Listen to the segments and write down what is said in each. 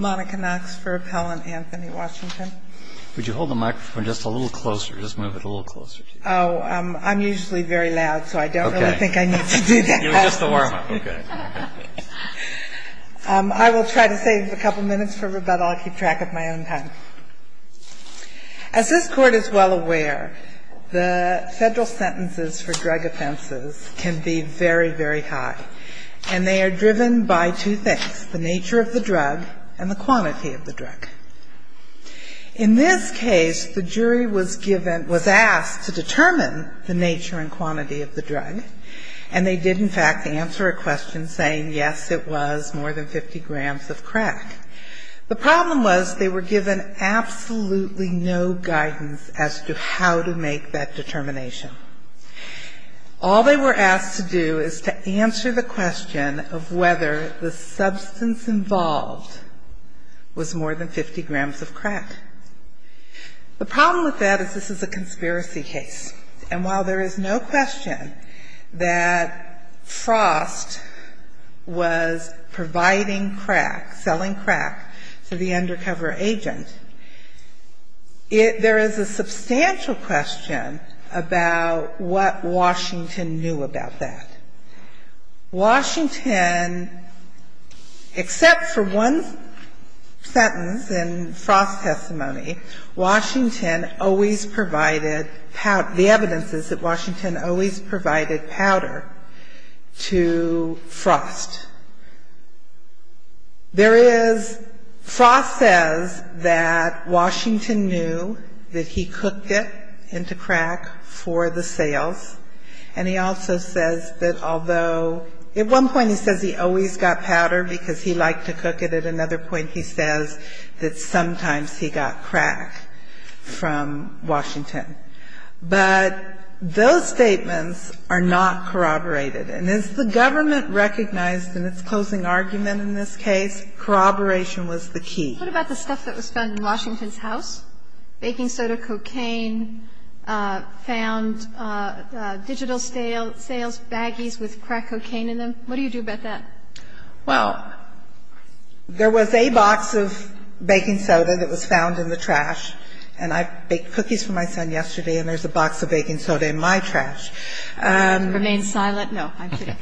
As this Court is well aware, the federal sentences for drug offenses can be very, very high, and they are driven by two things, the nature of the drug and the nature of the person who is using it. In this case, the jury was given, was asked to determine the nature and quantity of the drug, and they did, in fact, answer a question saying, yes, it was more than 50 grams of crack. The problem was they were given absolutely no guidance as to how to make that determination. All they were asked to do is to answer the question of whether the substance involved was more than 50 grams of crack. The problem with that is this is a conspiracy case, and while there is no question that Frost was providing crack, selling crack to the undercover agent, there is a substantial question about what Washington knew about that. Washington, except for one sentence in Frost's testimony, Washington always provided, the evidence is that Washington always provided powder to Frost. There is, Frost says that Washington knew that he cooked it into crack for the sales, and he also says that although, at one point he says he always got powder because he liked to cook it, at another point he says that sometimes he got crack from Washington. But those statements are not corroborated, and as the government recognized in its closing argument in this case, corroboration was the key. What about the stuff that was found in Washington's house? Baking soda, cocaine, found digital sales baggies with crack cocaine in them. What do you do about that? Well, there was a box of baking soda that was found in the trash, and I baked cookies for my son yesterday, and there's a box of baking soda in my trash. Remain silent? No, I'm kidding.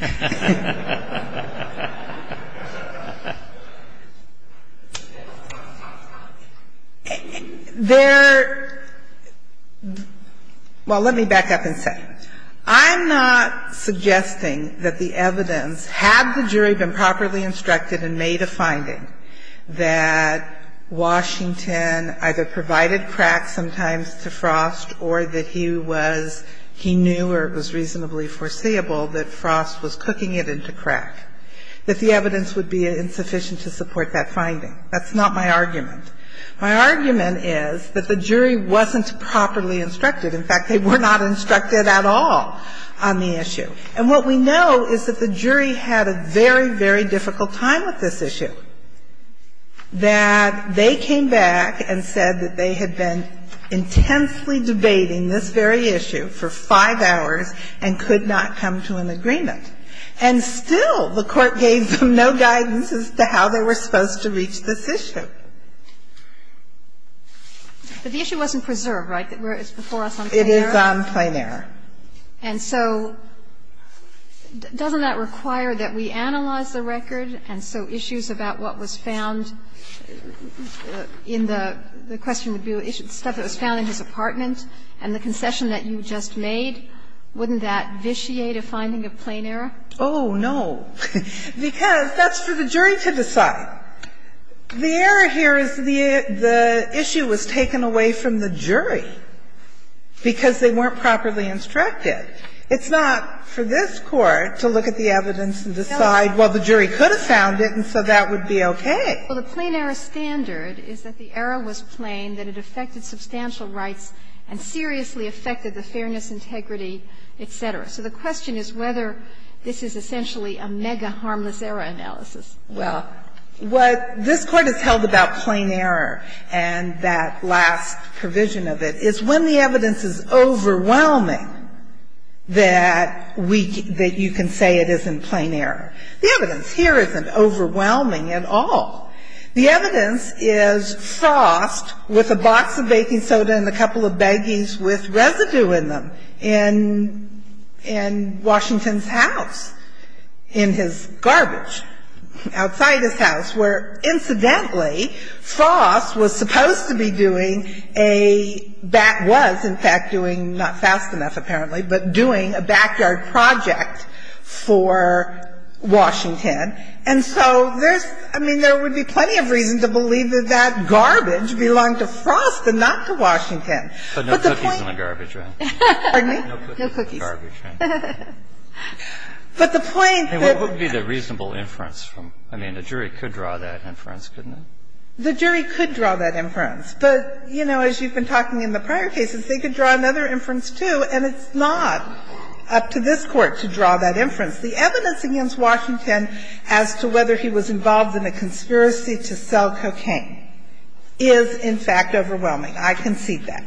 Well, let me back up and say, I'm not suggesting that the evidence, had the jury been properly instructed and made a finding that Washington either provided crack sometimes to Frost or that he was, he knew or it was reasonably foreseeable that Frost was cooking it into crack, that the evidence would be insufficient to support that finding. That's not my argument. My argument is that the jury wasn't properly instructed. In fact, they were not instructed at all on the issue. And what we know is that the jury had a very, very difficult time with this issue, that they came back and said that they had been intensely debating this very issue for five hours and could not come to an agreement. And still the Court gave them no guidance as to how they were supposed to reach this issue. But the issue wasn't preserved, right? It's before us on a plain error? It is on plain error. And so doesn't that require that we analyze the record? And so issues about what was found in the question, the stuff that was found in his apartment and the concession that you just made, wouldn't that vitiate a finding of plain error? Oh, no. Because that's for the jury to decide. The error here is the issue was taken away from the jury because they weren't properly instructed. It's not for this Court to look at the evidence and decide, well, the jury could have found it and so that would be okay. Well, the plain error standard is that the error was plain, that it affected substantial rights and seriously affected the fairness, integrity, et cetera. So the question is whether this is essentially a mega-harmless error analysis. Well, what this Court has held about plain error and that last provision of it is when the evidence is overwhelming that you can say it isn't plain error. The evidence here isn't overwhelming at all. The evidence is frost with a box of baking soda and a couple of baggies with residue in them in Washington's house, in his garbage, outside his house, where incidentally frost was supposed to be doing a back was in fact doing, not fast enough apparently, but doing a backyard project for Washington. And so there's, I mean, there would be plenty of reason to believe that that garbage belonged to frost and not to Washington. But the point. But no cookies in the garbage, right? Pardon me? No cookies in the garbage, right? But the point that. I mean, what would be the reasonable inference from, I mean, the jury could draw that inference, couldn't it? The jury could draw that inference. But, you know, as you've been talking in the prior cases, they could draw another inference, too, and it's not up to this Court to draw that inference. The evidence against Washington as to whether he was involved in a conspiracy to sell cocaine is in fact overwhelming. I concede that.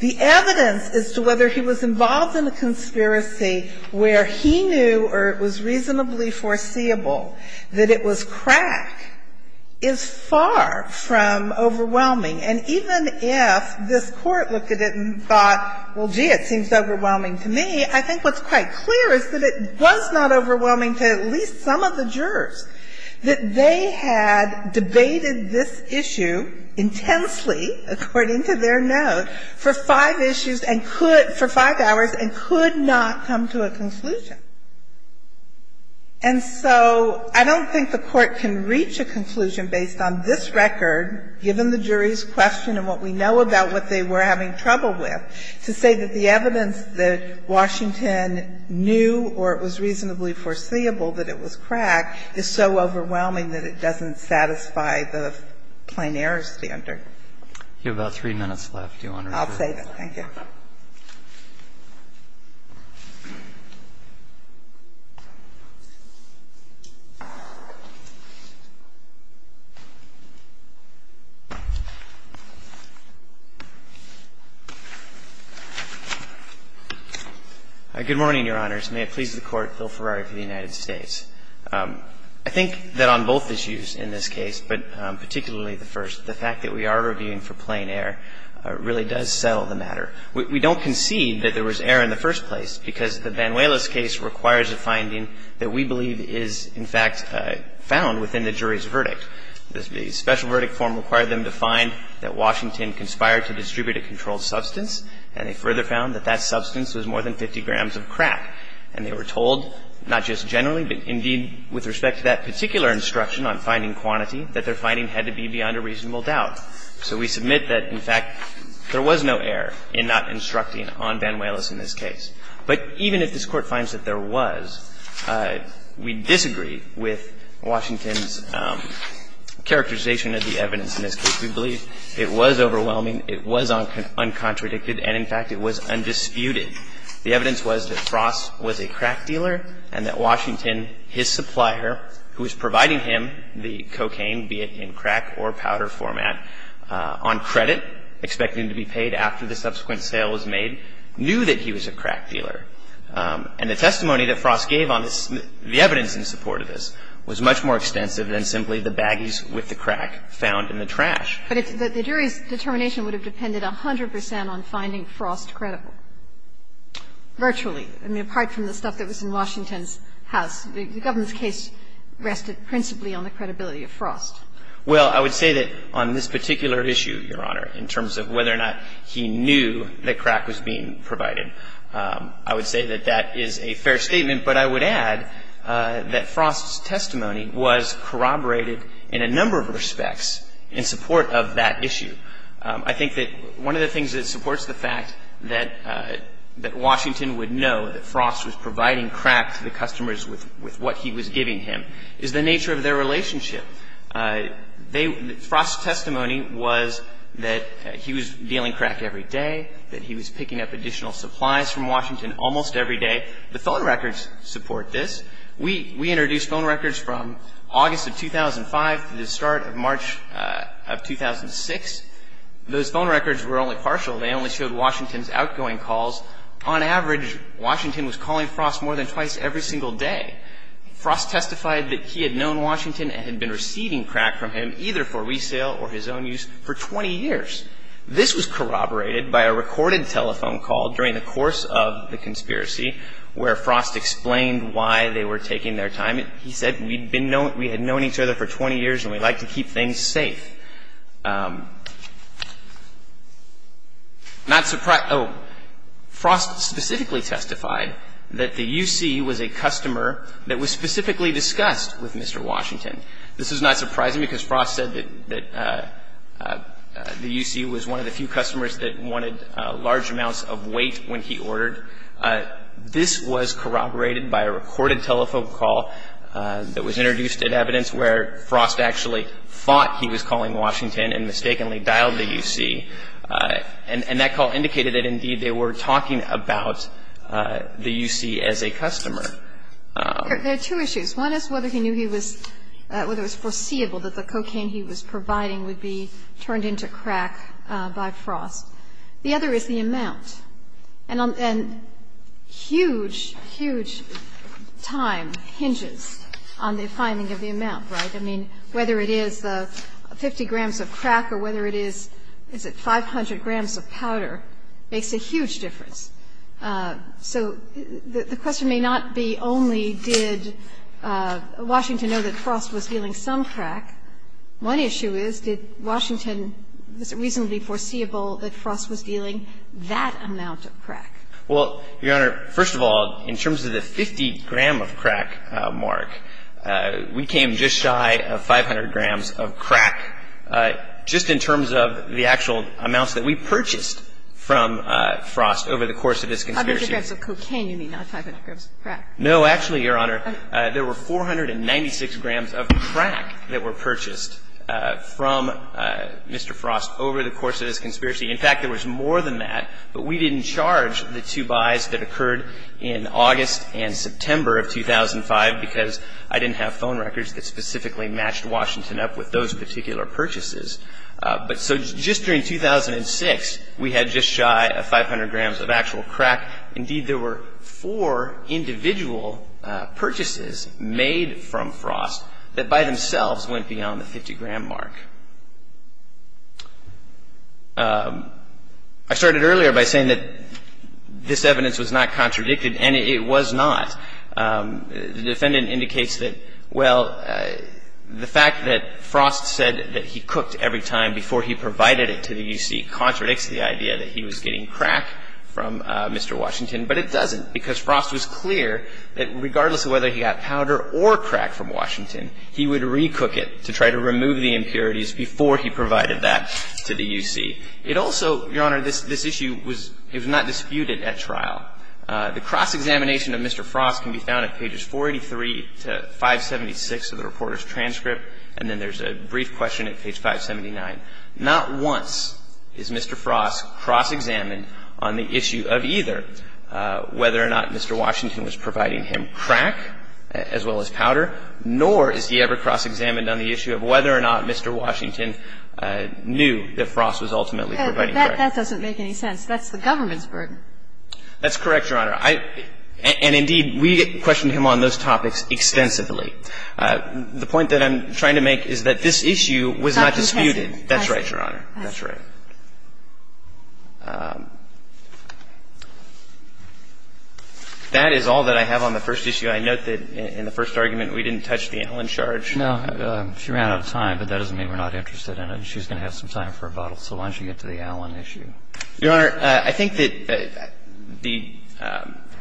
The evidence as to whether he was involved in a conspiracy where he knew or it was reasonably foreseeable that it was crack is far from overwhelming. And even if this Court looked at it and thought, well, gee, it seems overwhelming to me, I think what's quite clear is that it was not overwhelming to at least some of the jurors, that they had debated this issue intensely, according to their note, for five issues and could for five hours and could not come to a conclusion. And so I don't think the Court can reach a conclusion based on this record, given the jury's question and what we know about what they were having trouble with, to say that the evidence that Washington knew or it was reasonably foreseeable that it was crack is so overwhelming that it doesn't satisfy the plain error standard. You have about three minutes left, Your Honor. Good morning, Your Honors. May it please the Court. Phil Ferrari for the United States. I think that on both issues in this case, but particularly the first, the fact that we are reviewing for plain error really does settle the matter. We don't concede that there was error in the first place because the Banuelos case requires a finding that we believe is, in fact, found within the jury's verdict. The special verdict form required them to find that Washington conspired to distribute a controlled substance, and they further found that that substance was more than 50 grams of crack. And they were told, not just generally, but indeed with respect to that particular quantity, that their finding had to be beyond a reasonable doubt. So we submit that, in fact, there was no error in not instructing on Banuelos in this case. But even if this Court finds that there was, we disagree with Washington's characterization of the evidence in this case. We believe it was overwhelming, it was uncontradicted, and, in fact, it was undisputed. The evidence was that Frost was a crack dealer and that Washington, his supplier, who was providing him the cocaine, be it in crack or powder format, on credit, expecting to be paid after the subsequent sale was made, knew that he was a crack dealer. And the testimony that Frost gave on the evidence in support of this was much more extensive than simply the baggies with the crack found in the trash. But the jury's determination would have depended 100 percent on finding Frost credible, virtually. I mean, apart from the stuff that was in Washington's house. The government's case rested principally on the credibility of Frost. Well, I would say that on this particular issue, Your Honor, in terms of whether or not he knew that crack was being provided, I would say that that is a fair statement. But I would add that Frost's testimony was corroborated in a number of respects in support of that issue. I think that one of the things that supports the fact that Washington would know that with what he was giving him is the nature of their relationship. Frost's testimony was that he was dealing crack every day, that he was picking up additional supplies from Washington almost every day. The phone records support this. We introduced phone records from August of 2005 to the start of March of 2006. Those phone records were only partial. They only showed Washington's outgoing calls. On average, Washington was calling Frost more than twice every single day. Frost testified that he had known Washington and had been receiving crack from him, either for resale or his own use, for 20 years. This was corroborated by a recorded telephone call during the course of the conspiracy where Frost explained why they were taking their time. He said, we had known each other for 20 years and we like to keep things safe. Frost specifically testified that the U.C. was a customer that was specifically discussed with Mr. Washington. This is not surprising because Frost said that the U.C. was one of the few customers that wanted large amounts of weight when he ordered. This was corroborated by a recorded telephone call that was introduced in evidence where Frost actually thought he was calling Washington. And that call indicated that, indeed, they were talking about the U.C. as a customer. There are two issues. One is whether he knew he was or whether it was foreseeable that the cocaine he was providing would be turned into crack by Frost. The other is the amount. And huge, huge time hinges on the finding of the amount, right? I mean, whether it is the 50 grams of crack or whether it is, is it 500 grams of powder makes a huge difference. So the question may not be only did Washington know that Frost was dealing some crack. One issue is, did Washington, was it reasonably foreseeable that Frost was dealing that amount of crack? Well, Your Honor, first of all, in terms of the 50-gram-of-crack mark, we came just in time to the fact that there were 496 grams of crack that were purchased from Mr. Frost over the course of this conspiracy. In fact, there was more than that, but we didn't charge the two buys that occurred in August and September of 2005, because I didn't have phone records that specifically matched Washington up with those particular purchases. But so just during 2006, we had just shy of 500 grams of actual crack. Indeed, there were four individual purchases made from Frost that by themselves went beyond the 50-gram mark. I started earlier by saying that this evidence was not contradicted, and it was not. The defendant indicates that, well, the fact that Frost said that he cooked every time before he provided it to the U.C. contradicts the idea that he was getting crack from Mr. Washington, but it doesn't, because Frost was clear that regardless of whether he got powder or crack from Washington, he would recook it to try to remove the impurities before he provided that to the U.C. It also, Your Honor, this issue was not disputed at trial. The cross-examination of Mr. Frost can be found at pages 483 to 576 of the reporter's transcript, and then there's a brief question at page 579. Not once is Mr. Frost cross-examined on the issue of either whether or not Mr. Washington was providing him crack as well as powder, nor is he ever cross-examined on the issue of whether or not Mr. Washington knew that Frost was ultimately providing crack. That doesn't make any sense. That's the government's burden. That's correct, Your Honor. And indeed, we questioned him on those topics extensively. The point that I'm trying to make is that this issue was not disputed. That's right, Your Honor. That's right. That is all that I have on the first issue. I note that in the first argument we didn't touch the Allen charge. No. She ran out of time, but that doesn't mean we're not interested in it. She's going to have some time for a bottle, so why don't you get to the Allen issue? Your Honor, I think that the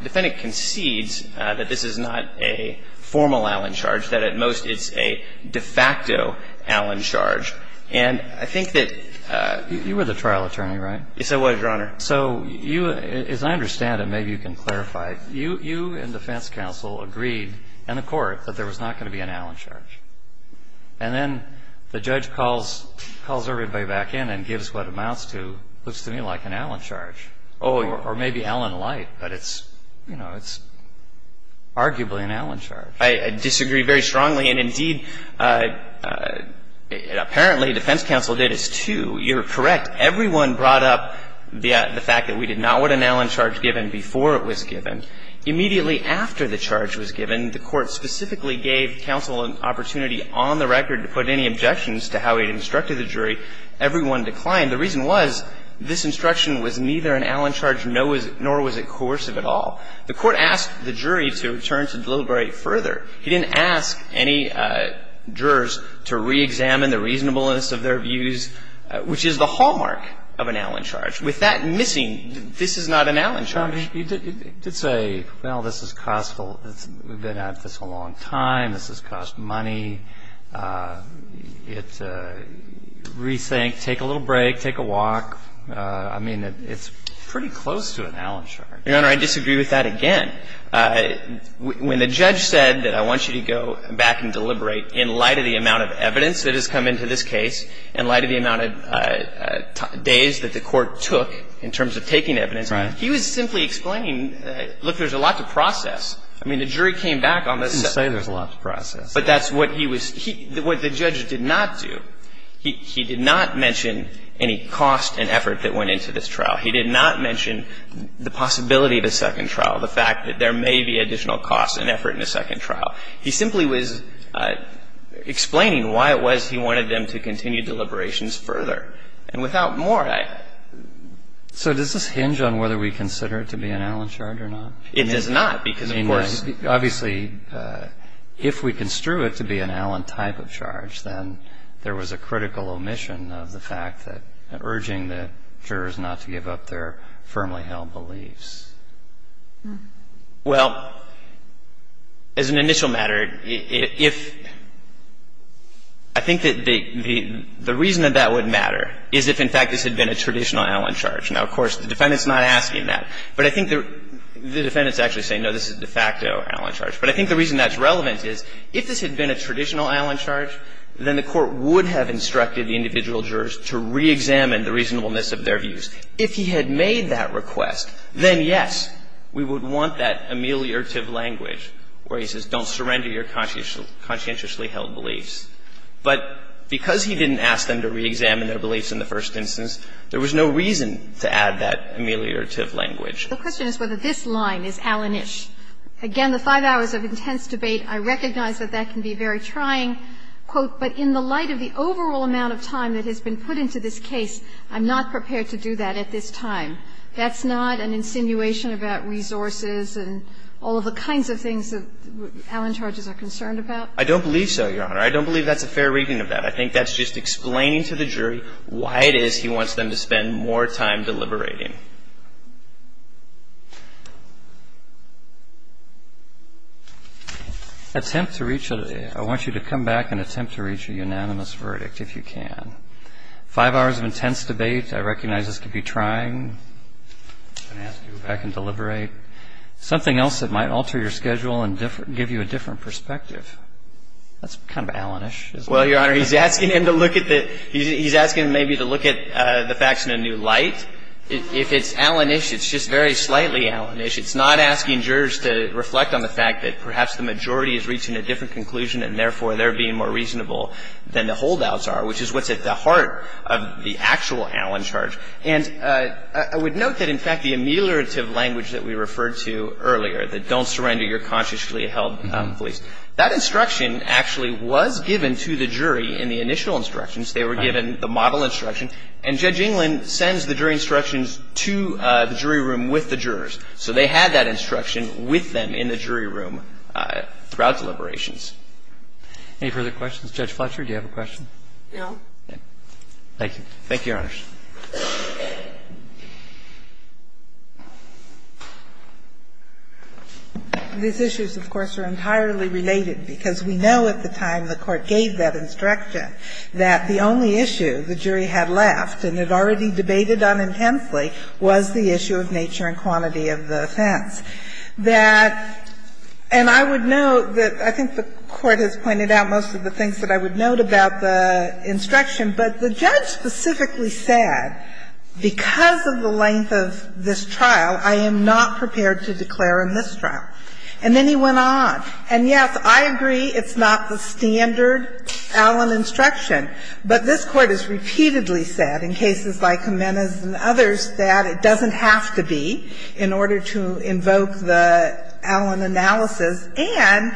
defendant concedes that this is not a formal Allen charge, that at most it's a de facto Allen charge. And I think that you were the trial attorney, right? Yes, I was, Your Honor. So you, as I understand it, maybe you can clarify, you and defense counsel agreed in the court that there was not going to be an Allen charge. And then the judge calls everybody back in and gives what amounts to, looks to me like an Allen charge. Or maybe Allen-like, but it's, you know, it's arguably an Allen charge. I disagree very strongly. And indeed, apparently defense counsel did as too. You're correct. Everyone brought up the fact that we did not want an Allen charge given before it was given. Immediately after the charge was given, the court specifically gave counsel an opportunity on the record to put any objections to how he had instructed the jury. Everyone declined. The reason was this instruction was neither an Allen charge nor was it coercive at all. The court asked the jury to return to Delilbury further. He didn't ask any jurors to reexamine the reasonableness of their views, which is the hallmark of an Allen charge. With that missing, this is not an Allen charge. You did say, well, this is costful. We've been at this a long time. This has cost money. It's a rethink. Take a little break. Take a walk. I mean, it's pretty close to an Allen charge. Your Honor, I disagree with that again. When the judge said that I want you to go back and deliberate in light of the amount of evidence that has come into this case, in light of the amount of days that the case has taken, I simply explained, look, there's a lot to process. I mean, the jury came back on this. You didn't say there's a lot to process. But that's what he was – what the judge did not do. He did not mention any cost and effort that went into this trial. He did not mention the possibility of a second trial, the fact that there may be additional costs and effort in a second trial. He simply was explaining why it was he wanted them to continue deliberations further. And without more, I – So does this hinge on whether we consider it to be an Allen charge or not? It does not because, of course – Obviously, if we construe it to be an Allen type of charge, then there was a critical omission of the fact that – urging the jurors not to give up their firmly held beliefs. Well, as an initial matter, if – I think that the – the reason that that would matter is if, in fact, this had been a traditional Allen charge. Now, of course, the defendant's not asking that. But I think the – the defendant's actually saying, no, this is a de facto Allen charge. But I think the reason that's relevant is, if this had been a traditional Allen charge, then the Court would have instructed the individual jurors to reexamine the reasonableness of their views. If he had made that request, then, yes, we would want that ameliorative language where he says, don't surrender your conscientiously held beliefs. But because he didn't ask them to reexamine their beliefs in the first instance, there was no reason to add that ameliorative language. The question is whether this line is Allen-ish. Again, the five hours of intense debate, I recognize that that can be very trying. Quote, But in the light of the overall amount of time that has been put into this case, I'm not prepared to do that at this time. That's not an insinuation about resources and all of the kinds of things that Allen charges are concerned about? I don't believe so, Your Honor. I don't believe that's a fair reading of that. I think that's just explaining to the jury why it is he wants them to spend more time deliberating. Attempt to reach a – I want you to come back and attempt to reach a unanimous verdict, if you can. Five hours of intense debate, I recognize this could be trying. I'm going to ask you to go back and deliberate. Something else that might alter your schedule and give you a different perspective. That's kind of Allen-ish, isn't it? Well, Your Honor, he's asking him to look at the – he's asking him maybe to look at the facts in a new light. If it's Allen-ish, it's just very slightly Allen-ish. It's not asking jurors to reflect on the fact that perhaps the majority is reaching a different conclusion and, therefore, they're being more reasonable than the holdouts are, which is what's at the heart of the actual Allen charge. And I would note that, in fact, the ameliorative language that we referred to earlier, the don't surrender, you're consciously held police, that instruction actually was given to the jury in the initial instructions. They were given the model instruction. And Judge England sends the jury instructions to the jury room with the jurors. So they had that instruction with them in the jury room throughout deliberations. Any further questions? Judge Fletcher, do you have a question? No. Thank you. Thank you, Your Honors. These issues, of course, are entirely related because we know at the time the Court gave that instruction, that the only issue the jury had left and had already debated on intensely was the issue of nature and quantity of the offense. That – and I would note that I think the Court has pointed out most of the things that I would note about the instruction, but the judge specifically said, because of the length of this trial, I am not prepared to declare a mistrial. And then he went on. And, yes, I agree it's not the standard Allen instruction. But this Court has repeatedly said in cases like Jimenez and others that it doesn't have to be in order to invoke the Allen analysis. And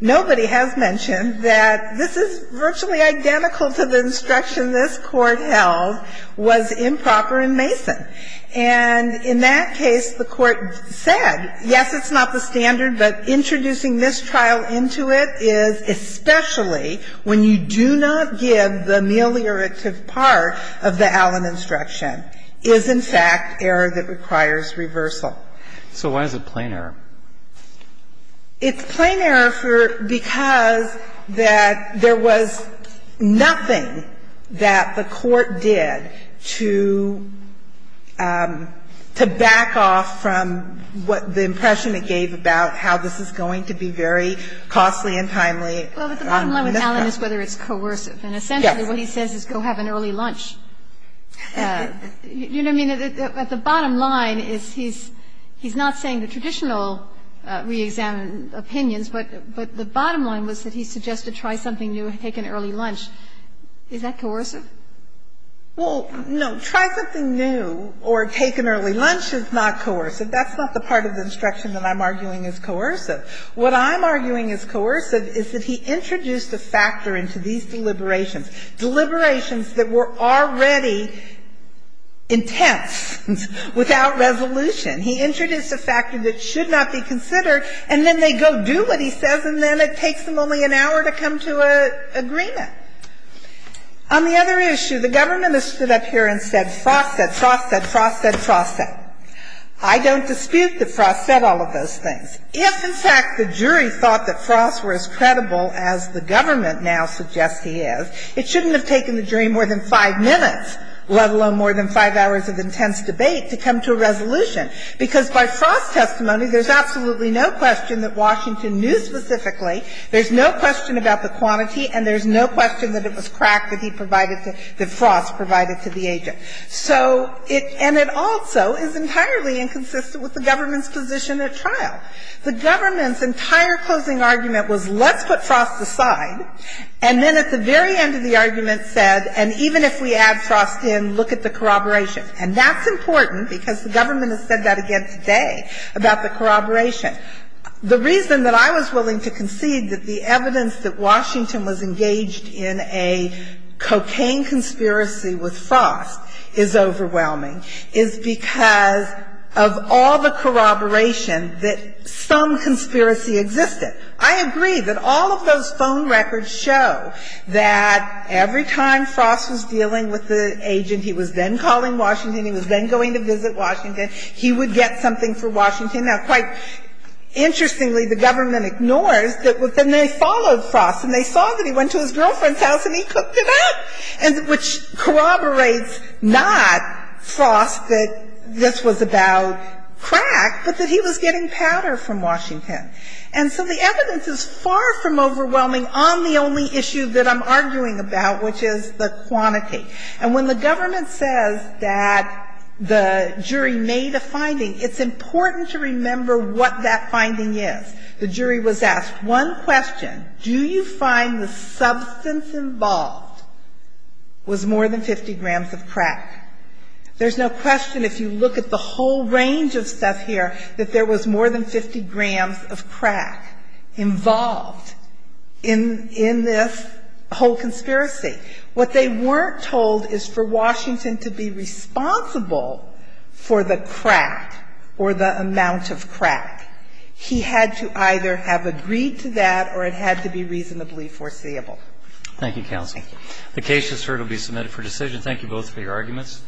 nobody has mentioned that this is virtually identical to the instruction this Court held was improper in Mason. And in that case, the Court said, yes, it's not the standard, but introducing mistrial into it is especially when you do not give the ameliorative part of the Allen instruction, is in fact error that requires reversal. So why is it plain error? It's plain error for – because that there was nothing that the Court did to make it, to back off from what the impression it gave about how this is going to be very costly and timely. Kagan. Well, but the bottom line with Allen is whether it's coercive. And essentially what he says is go have an early lunch. You know what I mean? At the bottom line is he's not saying the traditional re-examine opinions, but the bottom line was that he suggested try something new and take an early lunch. Is that coercive? Well, no. Try something new or take an early lunch is not coercive. That's not the part of the instruction that I'm arguing is coercive. What I'm arguing is coercive is that he introduced a factor into these deliberations, deliberations that were already intense without resolution. He introduced a factor that should not be considered, and then they go do what he says, On the other issue, the government has stood up here and said Frost said, Frost said, Frost said, Frost said. I don't dispute that Frost said all of those things. If, in fact, the jury thought that Frost were as credible as the government now suggests he is, it shouldn't have taken the jury more than 5 minutes, let alone more than 5 hours of intense debate, to come to a resolution. Because by Frost's testimony, there's absolutely no question that Washington knew specifically, there's no question about the quantity, and there's no question that it was crack that he provided to, that Frost provided to the agent. So it, and it also is entirely inconsistent with the government's position at trial. The government's entire closing argument was let's put Frost aside, and then at the very end of the argument said, and even if we add Frost in, look at the corroboration. And that's important because the government has said that again today about the corroboration. The reason that I was willing to concede that the evidence that Washington was engaged in a cocaine conspiracy with Frost is overwhelming is because of all the corroboration that some conspiracy existed. I agree that all of those phone records show that every time Frost was dealing with the agent, he was then calling Washington, he was then going to visit Washington, he would get something for Washington. Now, quite interestingly, the government ignores that, and they followed Frost, and they saw that he went to his girlfriend's house and he cooked it up, which corroborates not Frost that this was about crack, but that he was getting powder from Washington. And so the evidence is far from overwhelming on the only issue that I'm arguing about, which is the quantity. And when the government says that the jury made a finding, it's important to remember what that finding is. The jury was asked one question. Do you find the substance involved was more than 50 grams of crack? There's no question if you look at the whole range of stuff here that there was more than 50 grams of crack involved in this whole conspiracy. What they weren't told is for Washington to be responsible for the crack or the amount of crack. He had to either have agreed to that or it had to be reasonably foreseeable. Thank you, counsel. Thank you. The case, as heard, will be submitted for decision. Thank you both for your arguments.